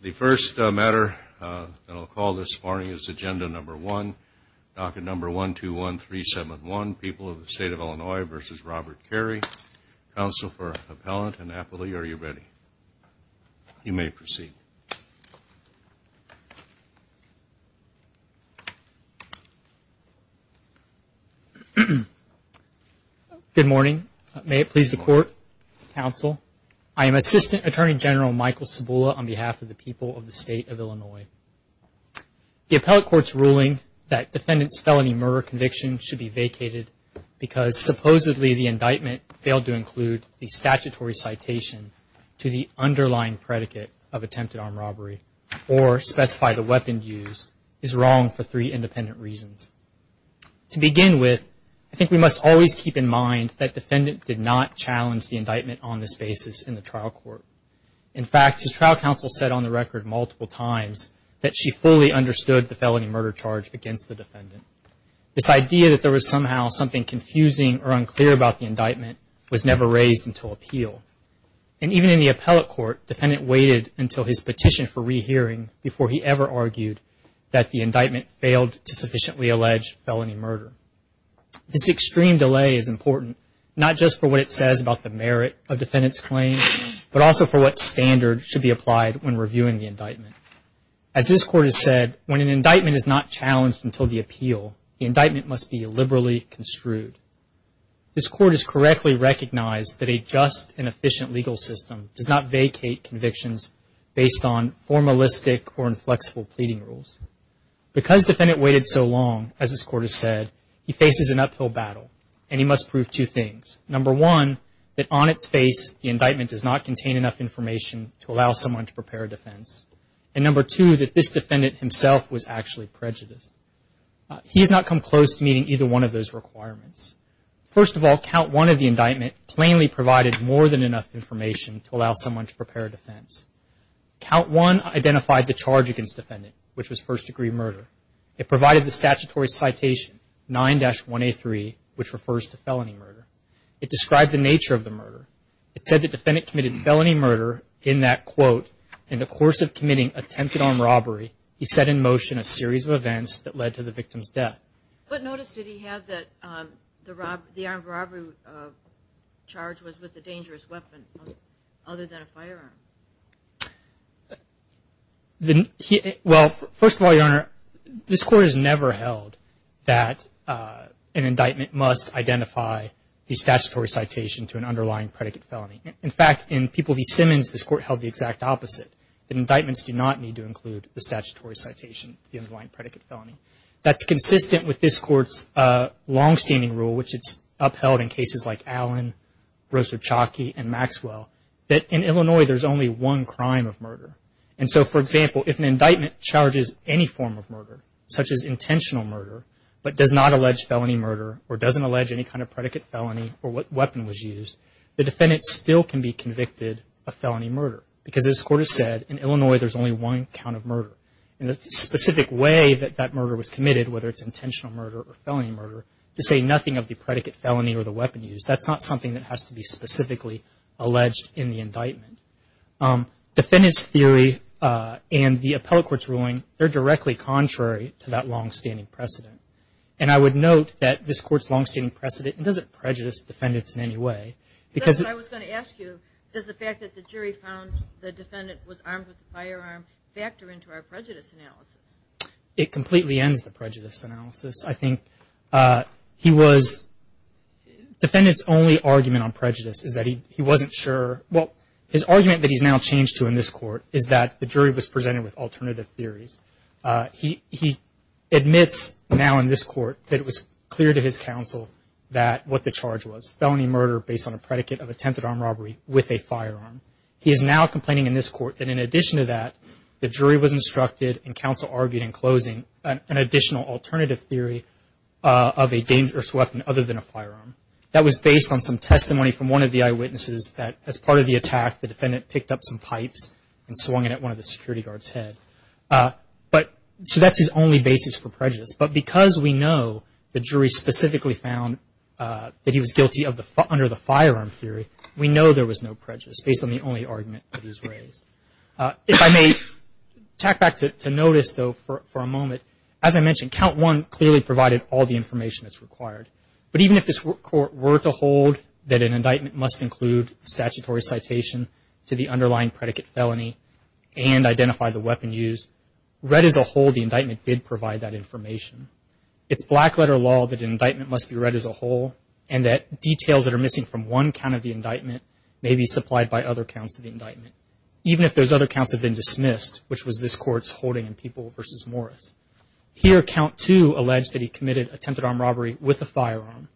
The first matter that I will call this morning is agenda number one, docket number 121371, People of the State of Illinois v. Robert Carey, counsel for Appellant Annapolis, are you ready? You may proceed. Good morning. May it please the court, counsel. I am Assistant Attorney General Michael Cibula on behalf of the People of the State of Illinois. The appellate court's ruling that defendant's felony murder conviction should be vacated because supposedly the indictment failed to include the statutory citation to the underlying predicate of attempted armed robbery or specify the weapon used is wrong for three independent reasons. To begin with, I think we must always keep in mind that defendant did not challenge the indictment on this basis in the trial counsel said on the record multiple times that she fully understood the felony murder charge against the defendant. This idea that there was somehow something confusing or unclear about the indictment was never raised until appeal. And even in the appellate court, defendant waited until his petition for rehearing before he ever argued that the indictment failed to sufficiently allege felony murder. This extreme delay is important, not just for what it says about the merit of defendant's claim, but also for what standard should be applied when reviewing the indictment. As this court has said, when an indictment is not challenged until the appeal, the indictment must be liberally construed. This court has correctly recognized that a just and efficient legal system does not vacate convictions based on formalistic or inflexible pleading rules. Because defendant waited so long, as this court has said, he has not come close to meeting either one of those requirements. First of all, count one of the indictment plainly provided more than enough information to allow someone to prepare a defense. Count one identified the charge against defendant, which was first degree murder. It provided the statutory citation 9-1A3, which refers to felony murder. It described the nature of the murder. It said that defendant committed felony murder in that, quote, in the course of committing attempted armed robbery, he set in motion a series of events that led to the victim's death. What notice did he have that the armed robbery charge was with a dangerous weapon other than a firearm? Well, first of all, Your Honor, this court has never held that an indictment must identify the statutory citation to an underlying predicate felony. In fact, in People v. Simmons, this court held the exact opposite, that indictments do not need to include the statutory citation to the underlying predicate felony. That's consistent with this court's longstanding rule, which it's upheld in cases like Allen, Rosa Chalky, and Maxwell, that in Illinois there's only one crime of murder. And so, for example, if an indictment charges any form of murder, such as intentional murder, but does not allege felony murder or doesn't allege any kind of predicate felony or what weapon was used, the defendant still can be convicted of felony murder because, as this court has said, in Illinois there's only one count of murder. And the specific way that that murder was committed, whether it's intentional murder or felony murder, to say nothing of the predicate felony or the weapon used, that's not something that has to be specifically alleged in the indictment. Defendant's theory and the appellate court's ruling, they're directly contrary to that court's longstanding precedent. It doesn't prejudice defendants in any way because I was going to ask you, does the fact that the jury found the defendant was armed with a firearm factor into our prejudice analysis? It completely ends the prejudice analysis. I think he was, defendant's only argument on prejudice is that he wasn't sure, well, his argument that he's now changed to in this court is that the jury was presented with alternative theories. He admits now in this counsel what the charge was, felony murder based on a predicate of attempted armed robbery with a firearm. He is now complaining in this court that in addition to that, the jury was instructed and counsel argued in closing an additional alternative theory of a dangerous weapon other than a firearm. That was based on some testimony from one of the eyewitnesses that as part of the attack, the defendant picked up some pipes and swung it at one of the security guards' head. So that's his only basis for prejudice. But because we know the jury specifically found that he was guilty under the firearm theory, we know there was no prejudice based on the only argument that he's raised. If I may tack back to notice though for a moment, as I mentioned, count one clearly provided all the information that's required. But even if this court were to hold that an indictment must include statutory citation to the underlying predicate felony and identify the weapon used, read as a whole the indictment did provide that information. It's black letter law that an indictment must be read as a whole and that details that are missing from one count of the indictment may be supplied by other counts of the indictment, even if those other counts have been dismissed, which was this court's holding in People v. Morris. Here count two alleged that he committed attempted armed robbery with a firearm.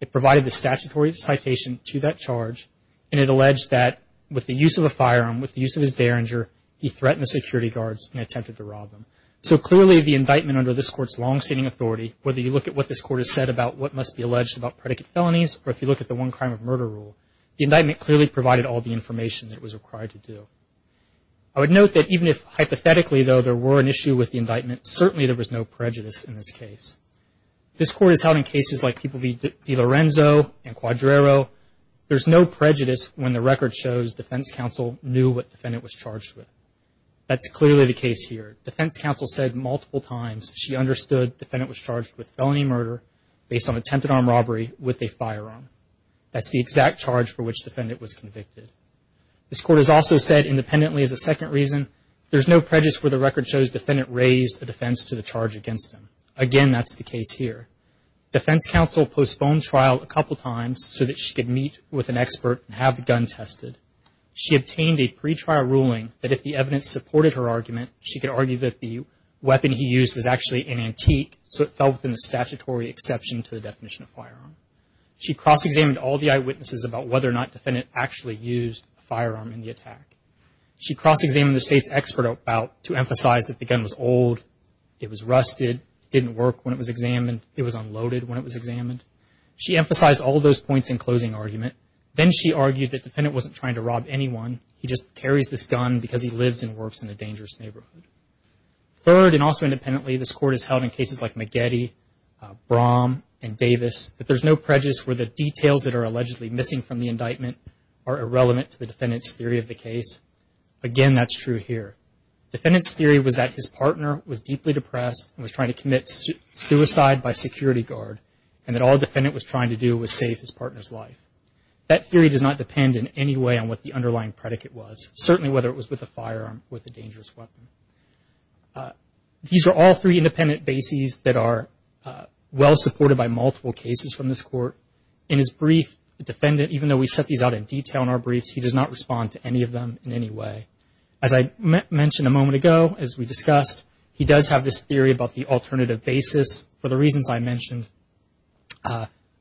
It provided the statutory citation to that charge and it alleged that with the use of a firearm, with the use of his derringer, he threatened the security guards and attempted to rob them. So clearly the indictment under this court's longstanding authority, whether you look at what this court has said about what must be alleged about predicate felonies or if you look at the one crime of murder rule, the indictment clearly provided all the information that was required to do. I would note that even if hypothetically though there were an issue with the indictment, certainly there was no prejudice in this case. This court is held in cases like People v. DiLorenzo and Quadrero. There's no prejudice when the defendant was charged with. That's clearly the case here. Defense counsel said multiple times she understood the defendant was charged with felony murder based on attempted armed robbery with a firearm. That's the exact charge for which the defendant was convicted. This court has also said independently as a second reason, there's no prejudice where the record shows the defendant raised a defense to the charge against him. Again, that's the case here. Defense counsel postponed trial a couple times so that she could meet with an expert and have the gun tested. She obtained a pretrial ruling that if the evidence supported her argument, she could argue that the weapon he used was actually an antique so it fell within the statutory exception to the definition of firearm. She cross-examined all the eyewitnesses about whether or not the defendant actually used a firearm in the attack. She cross-examined the state's expert about to emphasize that the gun was old, it was rusted, didn't work when it was examined, it was unloaded when it was examined. She emphasized all those points in closing argument. Then she argued that the defendant wasn't trying to rob anyone, he just carries this gun because he lives and works in a dangerous neighborhood. Third, and also independently, this court has held in cases like Maggette, Braum, and Davis that there's no prejudice where the details that are allegedly missing from the indictment are irrelevant to the defendant's theory of the case. Again, that's true here. Defendant's theory was that his partner was deeply depressed and was trying to commit suicide by security guard and that all the defendant was trying to do was save his partner's life. That theory does not depend in any way on what the underlying predicate was, certainly whether it was with a firearm or with a dangerous weapon. These are all three independent bases that are well supported by multiple cases from this court. In his brief, the defendant, even though we set these out in detail in our briefs, he does not respond to any of them in any way. As I mentioned a moment ago, as we discussed, he does have this theory about the alternative basis. For the reasons I mentioned,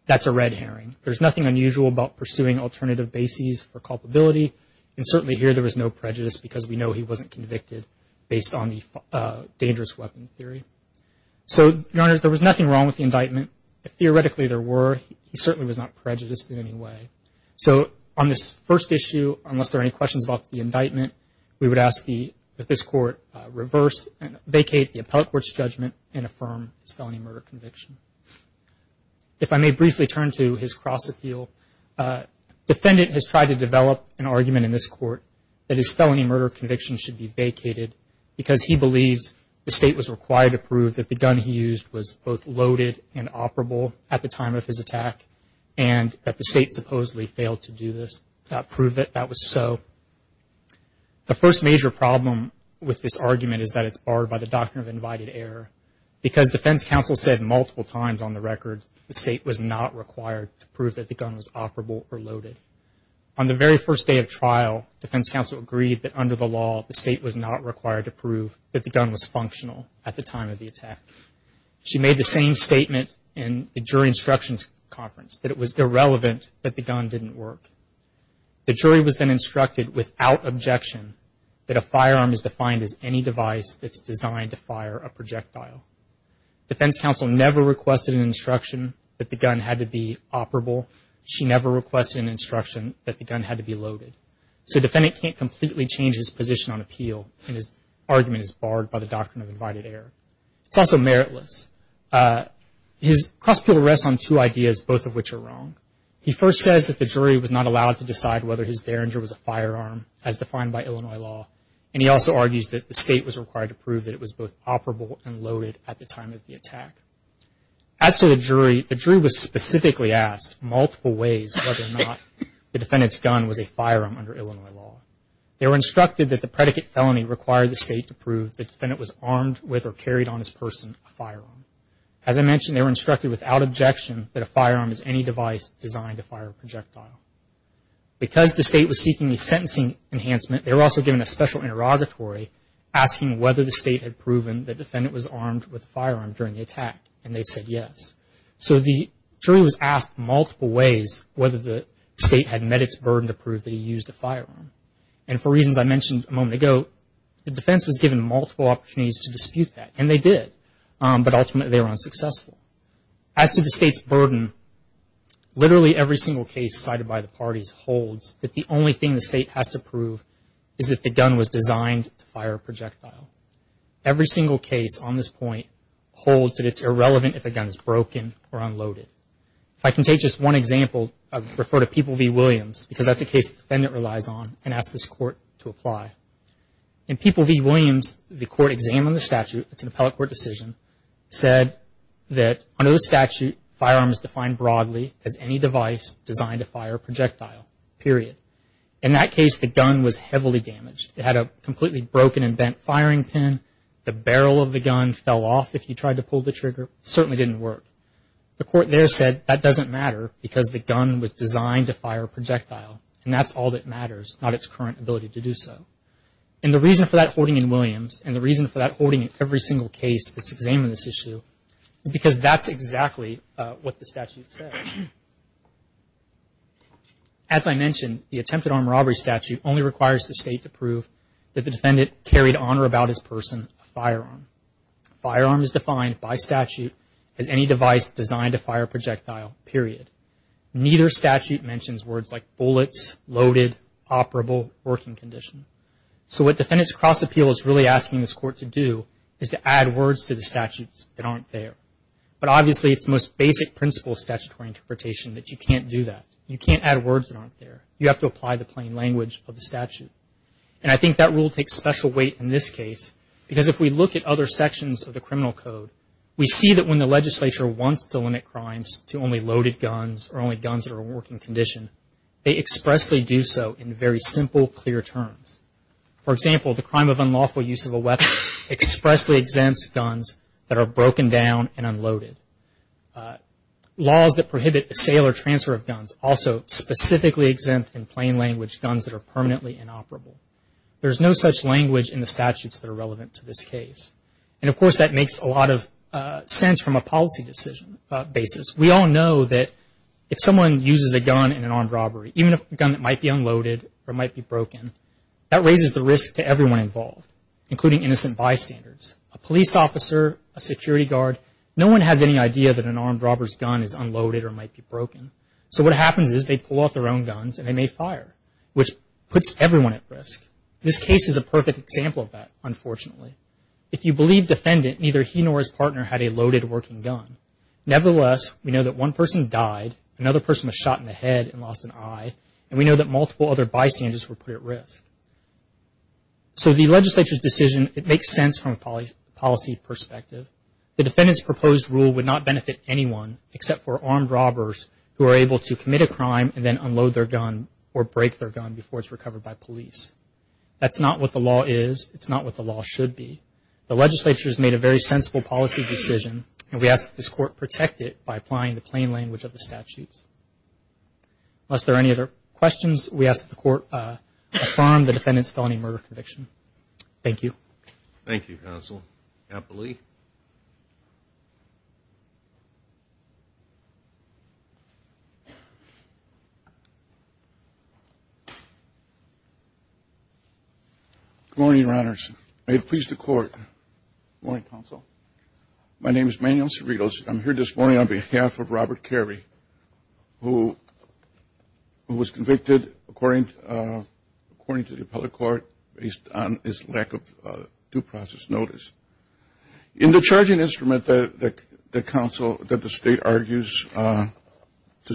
that's a red herring. There's nothing unusual about pursuing alternative bases for culpability and certainly here there was no prejudice because we know he wasn't convicted based on the dangerous weapon theory. Your Honor, there was nothing wrong with the indictment. Theoretically, there were. He certainly was not prejudiced in any way. On this first issue, unless there are any questions about the indictment, we would ask that this court reverse and vacate the appellate court's judgment and affirm his felony murder conviction. If I may briefly turn to his cross-appeal, defendant has tried to develop an argument in this court that his felony murder conviction should be vacated because he believes the State was required to prove that the gun he used was both loaded and operable at the time of his attack and that the State supposedly failed to do this. That proved that that was so. The first major problem with this argument is that it's barred by the doctrine of invited error because defense counsel said multiple times on the record the State was not required to prove that the gun was operable or loaded. On the very first day of trial, defense counsel agreed that under the law the State was not required to prove that the gun was functional at the time of the attack. She made the same statement in the jury instructions conference that it was irrelevant that the gun didn't work. The jury was then instructed without objection that a firearm is defined as any device that's designed to fire a projectile. Defense counsel never requested an instruction that the gun had to be operable. She never requested an instruction that the gun had to be loaded. So defendant can't completely change his position on appeal and his argument is barred by the doctrine of invited error. It's also meritless. His cross-appeal rests on two ideas, both of which are wrong. He first says that the jury was not allowed to decide whether his Derringer was a firearm as defined by Illinois law and he also argues that the State was required to prove that it was both operable and loaded at the time of the attack. As to the jury, the jury was specifically asked multiple ways whether or not the defendant's firearm under Illinois law. They were instructed that the predicate felony required the State to prove the defendant was armed with or carried on his person a firearm. As I mentioned, they were instructed without objection that a firearm is any device designed to fire a projectile. Because the State was seeking a sentencing enhancement, they were also given a special interrogatory asking whether the State had proven the defendant was armed with a firearm during the attack and they said yes. So the jury was asked multiple ways whether the State had met its burden to prove that he used a firearm. And for reasons I mentioned a moment ago, the defense was given multiple opportunities to dispute that and they did, but ultimately they were unsuccessful. As to the State's burden, literally every single case cited by the parties holds that the only thing the State has to prove is that the gun was designed to fire a projectile. Every single case on this point holds that it's irrelevant if a gun is broken or unloaded. If I can take just one example, I would refer to People v. Williams because that's a case the defendant relies on and asks this Court to apply. In People v. Williams, the Court examined the statute, it's an appellate court decision, said that under the statute, firearms defined broadly as any device designed to fire a projectile, period. In that case, the gun was heavily damaged. It had a completely broken and bent firing pin. The barrel of the gun fell off if you tried to pull the trigger. It certainly didn't work. The Court there said that doesn't matter because the gun was designed to fire a projectile and that's all that matters, not its current ability to do so. And the reason for that holding in Williams and the reason for that holding in every single case that's examined this issue is because that's exactly what the statute says. As I mentioned, the attempted armed robbery statute only requires the State to prove that the defendant carried on or about his person a firearm. Firearm is defined by statute as any device designed to fire a projectile, period. Neither statute mentions words like bullets, loaded, operable, working condition. So what Defendant's Cross Appeal is really asking this Court to do is to add words to the statutes that aren't there. But obviously it's the most basic principle of statutory interpretation that you can't do that. You can't add words that aren't there. You have to apply the plain language of the statute. And I think that rule takes special weight in this case because if we look at other sections of the criminal code, we see that when the legislature wants to limit crimes to only loaded guns or only guns that are a working condition, they expressly do so in very simple, clear terms. For example, the crime of unlawful use of a weapon expressly exempts guns that are broken down and unloaded. Laws that prohibit the sale or transfer of guns also specifically exempt in plain language guns that are permanently inoperable. There's no such language in the statute. Of course, that makes a lot of sense from a policy decision basis. We all know that if someone uses a gun in an armed robbery, even a gun that might be unloaded or might be broken, that raises the risk to everyone involved, including innocent bystanders, a police officer, a security guard. No one has any idea that an armed robber's gun is unloaded or might be broken. So what happens is they pull out their own guns and they may fire, which puts everyone at risk. This case is a perfect example of that, unfortunately. If you believe defendant, neither he nor his partner had a loaded working gun. Nevertheless, we know that one person died, another person was shot in the head and lost an eye, and we know that multiple other bystanders were put at risk. So the legislature's decision, it makes sense from a policy perspective. The defendant's proposed rule would not benefit anyone except for armed robbers who are able to commit a crime and then unload their gun or break their gun before it's recovered by police. That's not what the law is. It's not what the law should be. The legislature has made a very sensible policy decision and we ask that this court protect it by applying the plain language of the statutes. Unless there are any other questions, we ask that the court affirm the defendant's felony murder conviction. Thank you. Thank you, counsel. Captain Lee. Good morning, your honors. May it please the court. Good morning, counsel. My name is Manuel Cerritos. I'm here this morning on behalf of Robert Carey, who was convicted according to the appellate court based on his lack of due process notice. He in the charging instrument that the state argues to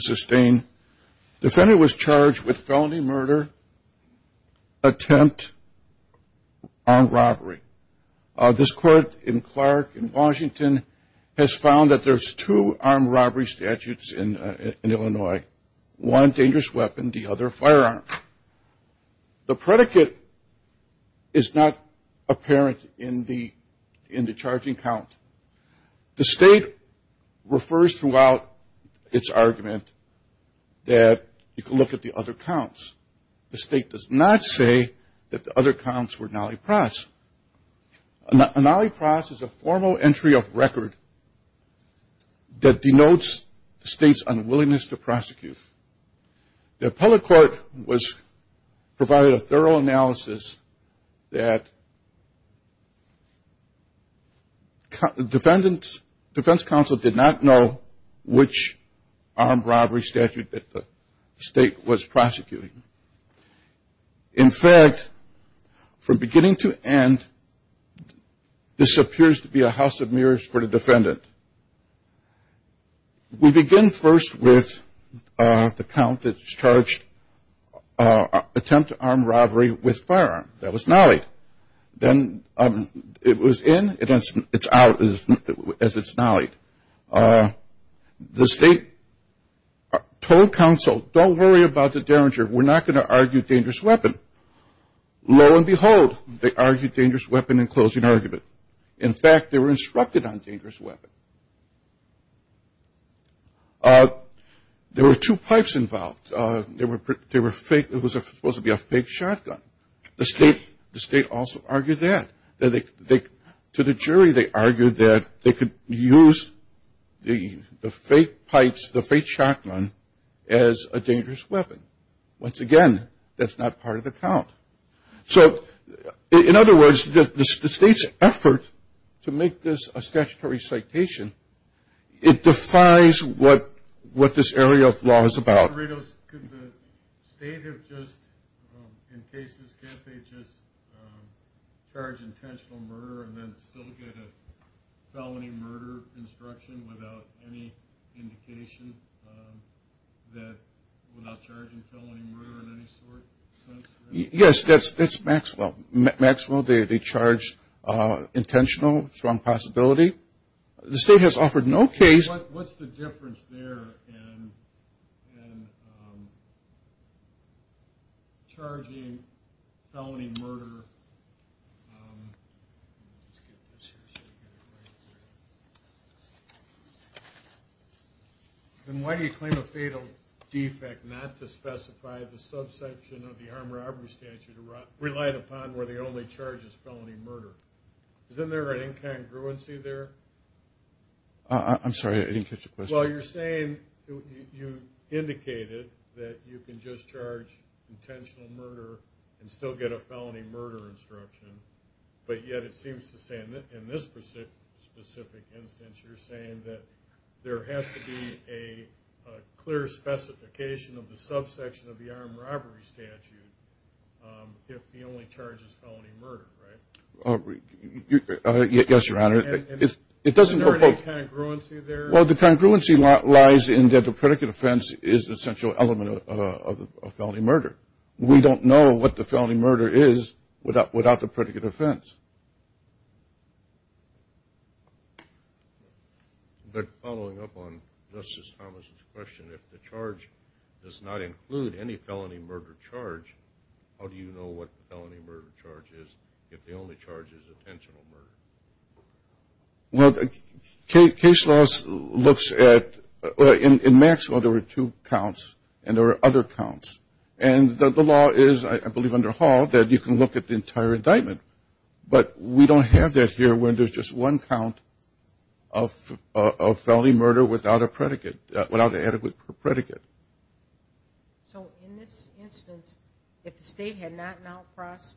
sustain, the defendant was charged with felony murder attempt armed robbery. This court in Clark in Washington has found that there's two armed robbery statutes in Illinois. One dangerous weapon, the other firearm. The predicate is not apparent in the charging count. The state refers throughout its argument that you can look at the other counts. The state does not say that the other counts were nally pros. A nally pros is a formal entry of record that denotes the state's unwillingness to prosecute. The appellate court provided a thorough analysis that defense counsel did not know which armed robbery statute that the state was prosecuting. In fact, from beginning to end, this appears to be a house of mirrors for the defendant. We begin first with the count that's charged attempt armed robbery with firearm. That was nally. Then it was in. It's out as it's nally. The state told counsel, don't worry about the derringer. We're not going to argue dangerous weapon. Lo and behold, they argued dangerous weapon in closing argument. In fact, they were instructed on dangerous weapon. There were two pipes involved. It was supposed to be a fake shotgun. The state also argued that. To the jury, they argued that they could use the fake pipes, the fake shotgun, as a dangerous weapon. Once again, that's not part of the count. So in other words, the state's effort to make this a statutory citation, it defies what this area of law is about. Can the state, in cases, just charge intentional murder and then still get a felony murder instruction without any indication that without charging felony murder in any sort? Yes, that's Maxwell. Maxwell, they charge intentional, strong possibility. The state has offered no case. What's the difference there in charging felony murder? Then why do you claim a fatal defect not to specify the subsection of the armed robbery statute relied upon where the only charge is felony murder? Isn't there an incongruency there? I'm sorry, I didn't catch your question. Well, you're saying, you indicated that you can just charge intentional murder and still get a felony murder instruction, but yet it seems to say, in this specific instance, you're saying that there has to be a clear specification of the subsection of the armed robbery statute if the only charge is felony murder, right? Yes, Your Honor. It doesn't provoke... Isn't there an incongruency there? Well, the congruency lies in that the predicate offense is an essential element of felony murder. We don't know what the felony murder is without the predicate offense. But following up on Justice Thomas' question, if the charge does not include any felony murder charge, how do you know what the felony murder charge is if the only charge is intentional murder? Well, the case law looks at... In Maxwell, there were two counts, and there were other two counts. And the law is, I believe under Hall, that you can look at the entire indictment. But we don't have that here where there's just one count of felony murder without a predicate, without an adequate predicate. So in this instance, if the state had not now processed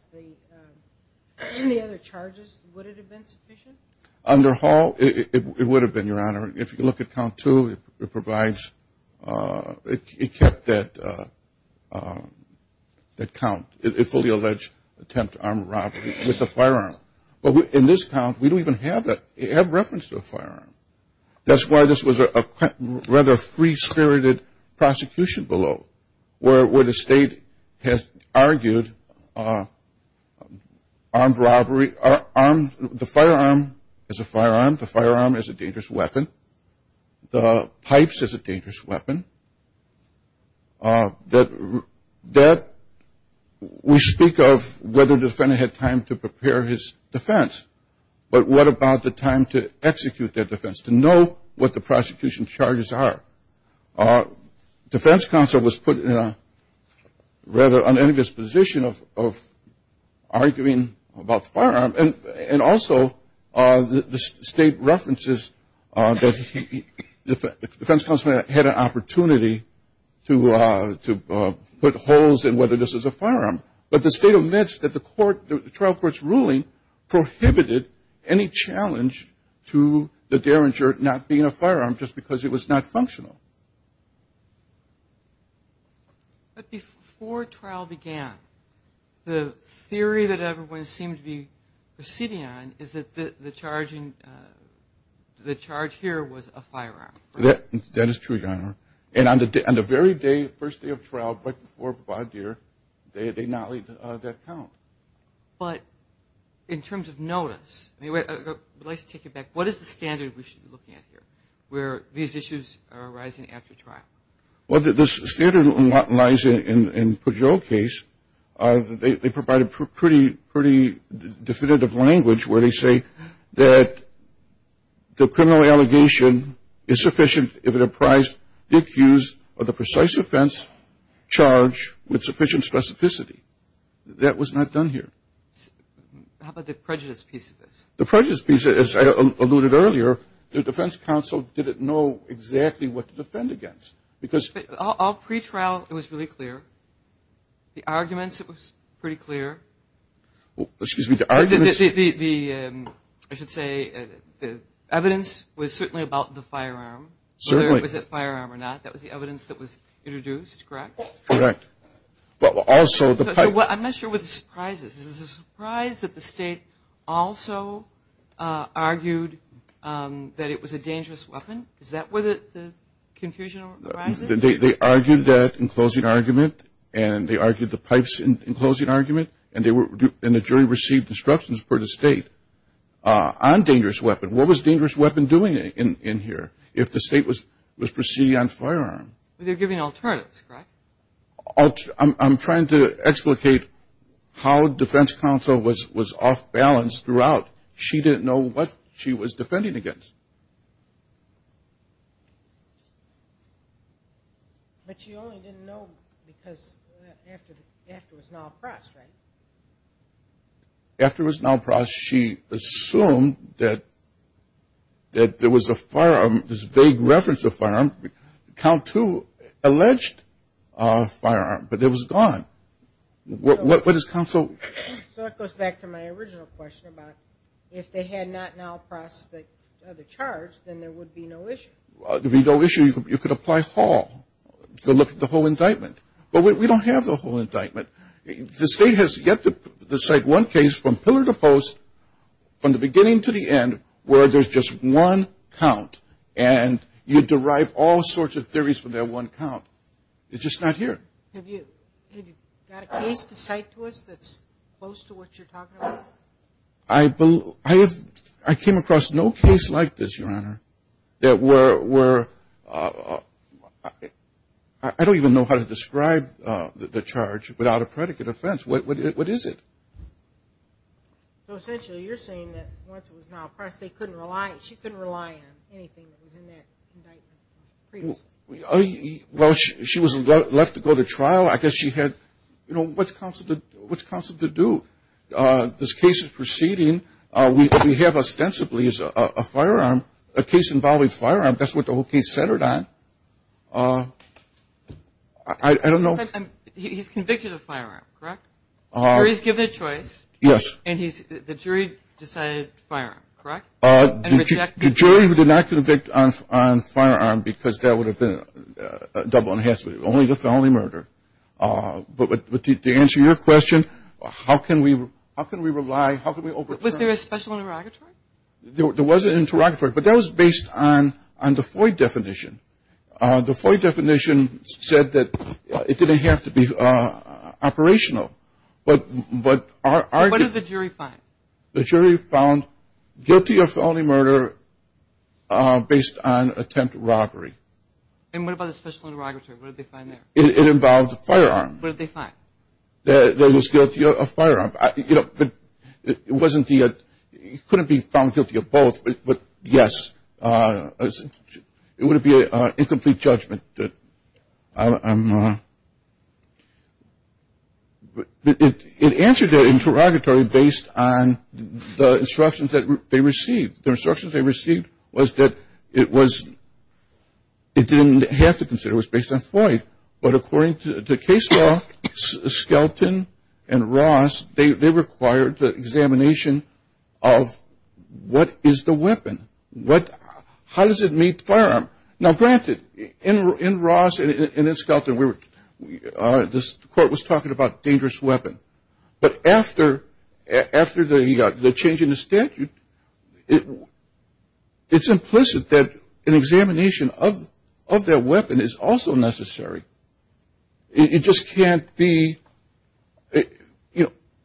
the other charges, would it have been sufficient? Under Hall, it would have been, Your Honor. If you look at count two, it provides... It kept that count, a fully alleged attempt to arm robbery with a firearm. But in this count, we don't even have that. It had reference to a firearm. That's why this was a rather free-spirited prosecution below, where the state has argued armed robbery... The firearm is a firearm. The firearm is a dangerous weapon. The pipe is a dangerous weapon. That... We speak of whether the defendant had time to prepare his defense. But what about the time to execute their defense, to know what the prosecution charges are? Defense counsel was put in a rather unambiguous position of arguing about a firearm. And also, the state references that the defense counsel had an opportunity to put holes in whether this was a firearm. But the state admits that the trial court's ruling prohibited any challenge to the derringer not being a firearm just because it was not functional. But before trial began, the theory that everyone seemed to be receding on is that the charge here was a firearm. That is true, Your Honor. And on the very day, first day of trial, right before Provideer, they not leave that count. But in terms of notice... I'd like to take you back. What is the standard we should be looking at here, where these issues arise? Well, the standard lies in Pujol case. They provide a pretty definitive language where they say that the criminal allegation is sufficient if it apprised Dick Hughes of the precise offense charge with sufficient specificity. That was not done here. How about the prejudice piece of this? The prejudice piece, as I alluded earlier, the defense counsel didn't know exactly what to defend against. All pretrial, it was really clear. The arguments, it was pretty clear. Excuse me, the arguments? I should say the evidence was certainly about the firearm. Certainly. Whether it was a firearm or not. That was the evidence that was introduced, correct? Correct. I'm not sure what the surprise is. Is it a surprise that the state also argued that it was a dangerous weapon? Is that where the confusion arises? They argued that in closing argument, and they argued the pipes in closing argument, and the jury received instructions per the state on dangerous weapon. What was dangerous weapon doing in here if the state was proceeding on firearm? They're giving alternatives, correct? I'm trying to explicate how defense counsel was off balance throughout. She didn't know what she was defending against. But she only didn't know because after it was now across, right? After it was now across, she assumed that there was a firearm, this vague reference to a firearm. Count two alleged a firearm, but it was gone. What does counsel? So it goes back to my original question about if they had not now processed the charge, then there would be no issue. There would be no issue. You could apply Hall to look at the whole indictment. But we don't have the whole indictment. The state has yet to cite one case from pillar to post, from the beginning to the end, where there's just one count. And you derive all sorts of theories from that one count. It's just not here. Have you got a case to cite to us that's close to what you're talking about? I came across no case like this, Your Honor, that were – I don't even know how to describe the charge without a predicate offense. What is it? So essentially, you're saying that once it was now across, they couldn't rely – she couldn't rely on anything that was in that indictment previously? Well, she was left to go to trial. I guess she had – you know, what's counsel to do? This case is proceeding. We have ostensibly a firearm – a case involving firearm. That's what the whole case centered on. I don't know. He's convicted of firearm, correct? Or he's given a choice. Yes. And the jury decided firearm, correct? The jury who did not convict on firearm because that would have been a double and a half – only the felony murder. But to answer your question, how can we rely – how can we overturn – Was there a special interrogatory? There was an interrogatory, but that was based on the FOIA definition. The FOIA definition said that it didn't have to be operational. But our – What did the jury find? The jury found guilty of felony murder based on attempt to robbery. And what about the special interrogatory? What did they find there? It involved a firearm. What did they find? There was guilty of firearm. You know, but it wasn't the – he couldn't be found guilty of both. But, yes, it would be an incomplete judgment. I'm – it answered the interrogatory based on the instructions that they received. The instructions they received was that it was – it didn't have to consider. It was based on FOIA. But according to the case law, Skelton and Ross, they required the examination of what is the weapon? What – how does it meet firearm? Now, granted, in Ross and in Skelton, we were – the court was talking about dangerous weapon. But after the change in the statute, it's implicit that an examination of their weapon is also necessary. It just can't be –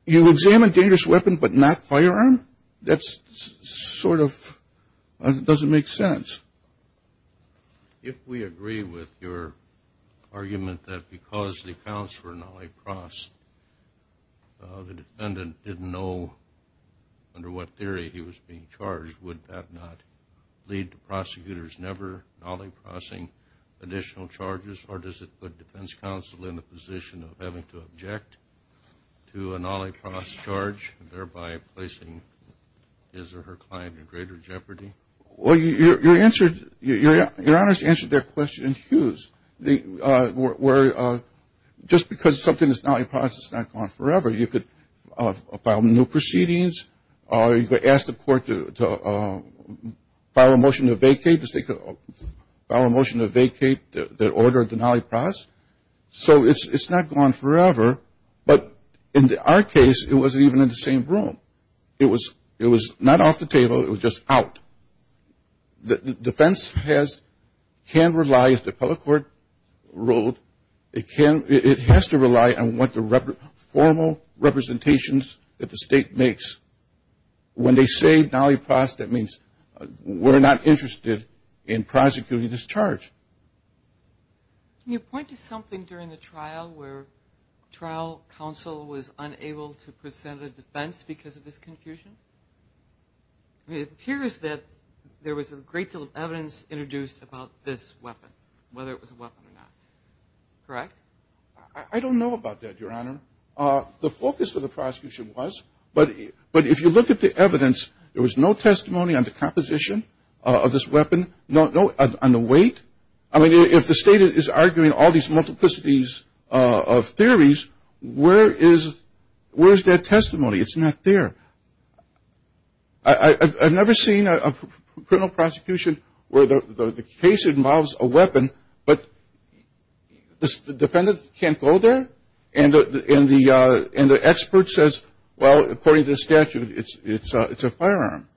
you examine dangerous weapon but not firearm? That's sort of – it doesn't make sense. If we agree with your argument that because the counts were nollie-cross, the defendant didn't know under what theory he was being charged, would that not lead to prosecutors never nollie-crossing additional charges? Or does it put defense counsel in the position of having to object to a nollie-cross charge, thereby placing his or her client in greater jeopardy? Well, your answer – your honors answered their question in hues. They were – just because something is nollie-cross, it's not gone forever. You could file new proceedings. You could ask the court to file a motion to vacate the state – file a motion to vacate the order of the nollie-cross. So it's not gone forever. But in our case, it wasn't even in the same room. It was – it was not off the table. It was just out. The defense has – can rely, as the public court ruled, it can – it has to rely on what the formal representations that the state makes. When they say nollie-cross, that means we're not interested in prosecuting this charge. Can you point to something during the trial where trial counsel was unable to present a defense because of this confusion? It appears that there was a great deal of evidence introduced about this weapon, whether it was a weapon or not. Correct? I don't know about that, your honor. The focus of the prosecution was, but if you look at the evidence, there was no testimony on the composition of this weapon, no – on the weight. I mean, if the state is arguing all these multiplicities of theories, where is that testimony? It's not there. I've never seen a criminal prosecution where the case involves a weapon, but the defendant can't go there, and the expert says, well, according to the statute, it's a firearm,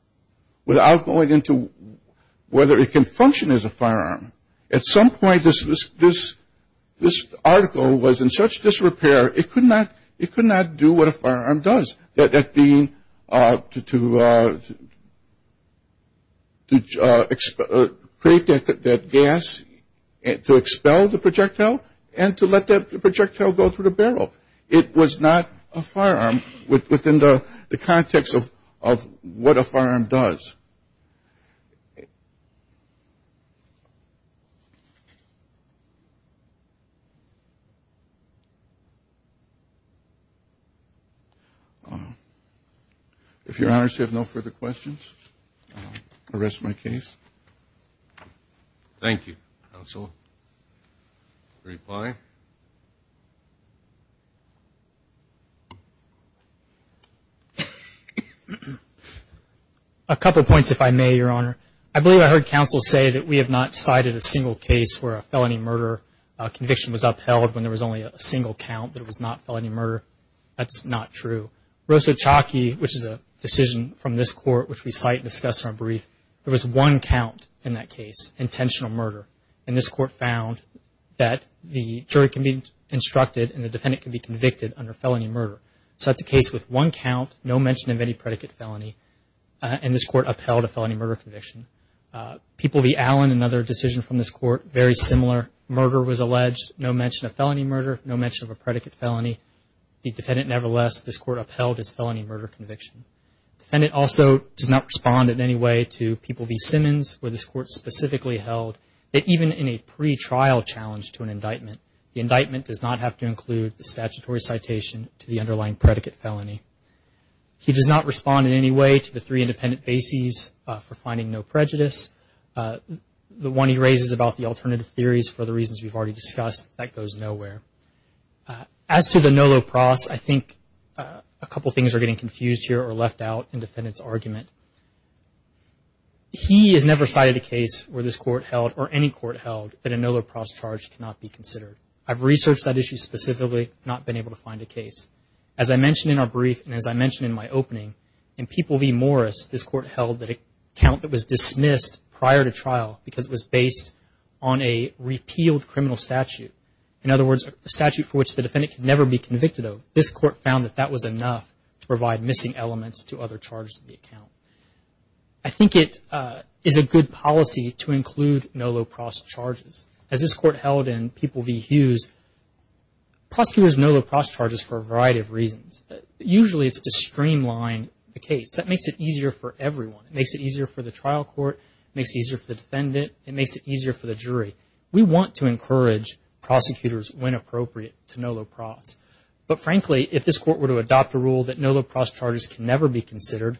without going into whether it can function as a firearm. At some point, this article was in such disrepair, it could not do what a firearm does, that being to create that gas to expel the projectile and to let that projectile go through the barrel. It was not a firearm within the context of what a firearm does. If your honors have no further questions, I rest my case. Thank you, counsel. Reply. A couple points, if I may, your honor. I believe I heard counsel say that we have not cited a single case where a felony murder conviction was upheld when there was only a single count that it was not felony murder. That's not true. Rosso Chalki, which is a decision from this court, which we cite and discuss in our brief, there was one count in that case, intentional murder. And this court found that the jury can be instructed and the defendant can be convicted under felony murder. So that's a case with one count, no mention of any predicate felony, and this court upheld a felony murder conviction. People v. Allen, another decision from this court, very similar. Murder was alleged, no mention of felony murder, no mention of a predicate felony. The defendant, nevertheless, this court upheld his felony murder conviction. The defendant also does not respond in any way to People v. Simmons, where this court specifically held that even in a pre-trial challenge to an indictment, the indictment does not have to include the statutory citation to the underlying predicate felony. He does not respond in any way to the three independent bases for finding no prejudice. The one he raises about the alternative theories for the reasons we've already discussed, that goes nowhere. As to the no lo pros, I think a couple things are getting confused here or left out in the defendant's argument. He has never cited a case where this court held, or any court held, that a no lo pros charge cannot be considered. I've researched that issue specifically, not been able to find a case. As I mentioned in our brief, and as I mentioned in my opening, in People v. Morris, this court held that an account that was dismissed prior to trial because it was based on a repealed criminal statute. In other words, a statute for which the defendant can never be convicted of. This court found that that was enough to provide missing elements to other charges in the account. I think it is a good policy to include no lo pros charges. As this court held in People v. Hughes, prosecutors no lo pros charges for a variety of reasons. Usually it's to streamline the case. That makes it easier for everyone. It makes it easier for the trial court. It makes it easier for the defendant. It makes it easier for the jury. We want to encourage prosecutors, when appropriate, to no lo pros. But frankly, if this court were to adopt a rule that no lo pros charges can never be considered,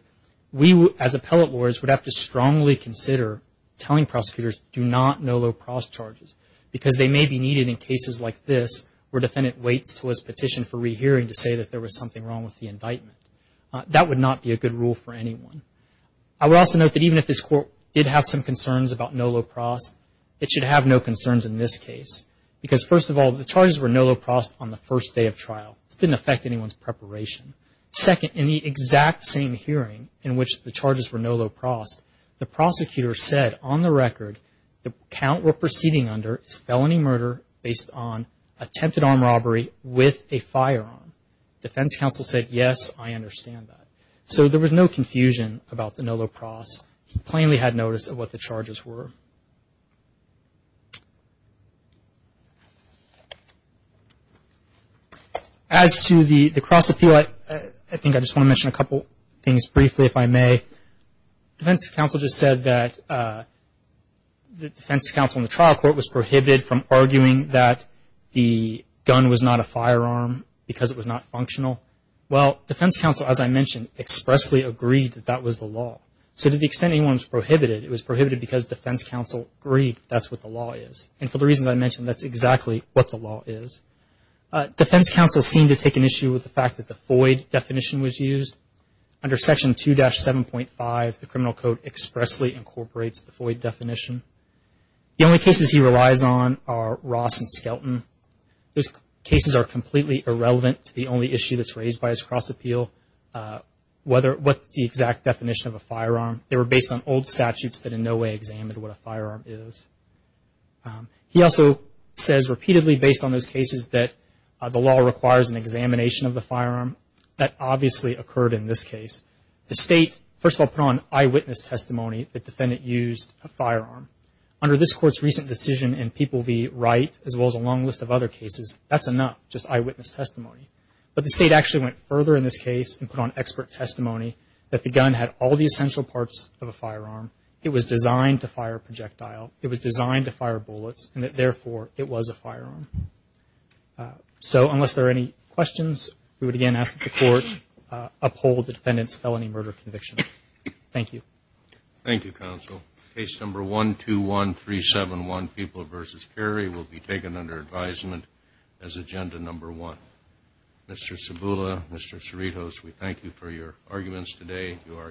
we as appellate lawyers would have to strongly consider telling prosecutors, do not no lo pros charges. Because they may be needed in cases like this, where the defendant waits until his petition for rehearing to say that there was something wrong with the indictment. That would not be a good rule for anyone. I would also note that even if this court did have some concerns about no lo pros, it should have no concerns in this case. Because first of all, the charges were no lo pros on the first day of trial. This didn't affect anyone's preparation. Second, in the exact same hearing in which the charges were no lo pros, the prosecutor said, on the record, the count we're proceeding under is felony murder based on attempted armed robbery with a firearm. Defense counsel said, yes, I understand that. So there was no confusion about the no lo pros. He plainly had notice of what the charges were. As to the cross appeal, I think I just want to mention a couple things briefly, if I may. Defense counsel just said that the defense counsel in the trial court was prohibited from arguing that the gun was not a firearm because it was not functional. Well, defense counsel, as I mentioned, expressly agreed that that was the law. So to the extent anyone was prohibited, it was prohibited because defense counsel agreed that's what the law is. And for the reasons I mentioned, that's exactly what the law is. Defense counsel seemed to take an issue with the fact that the FOID definition was used. Under Section 2-7.5, the criminal code expressly incorporates the FOID definition. The only cases he relies on are Ross and Skelton. Those cases are completely irrelevant to the only issue that's raised by his cross appeal, what's the exact definition of a firearm. They were based on old statutes that in no way examined what a firearm is. He also says repeatedly based on those cases that the law requires an examination of the firearm. That obviously occurred in this case. The state, first of all, put on eyewitness testimony the defendant used a firearm. Under this court's recent decision in People v. Wright, as well as a long list of other cases, that's enough, just eyewitness testimony. But the state actually went further in this case and put on expert testimony that the gun had all the essential parts of a firearm. It was designed to fire a projectile. It was designed to fire bullets, and that therefore it was a firearm. So unless there are any questions, we would again ask that the court uphold the defendant's felony murder conviction. Thank you. Thank you, counsel. Case number 121371, People v. Carey, will be taken under advisement as agenda number one. Mr. Cibula, Mr. Cerritos, we thank you for your arguments today. You are excused.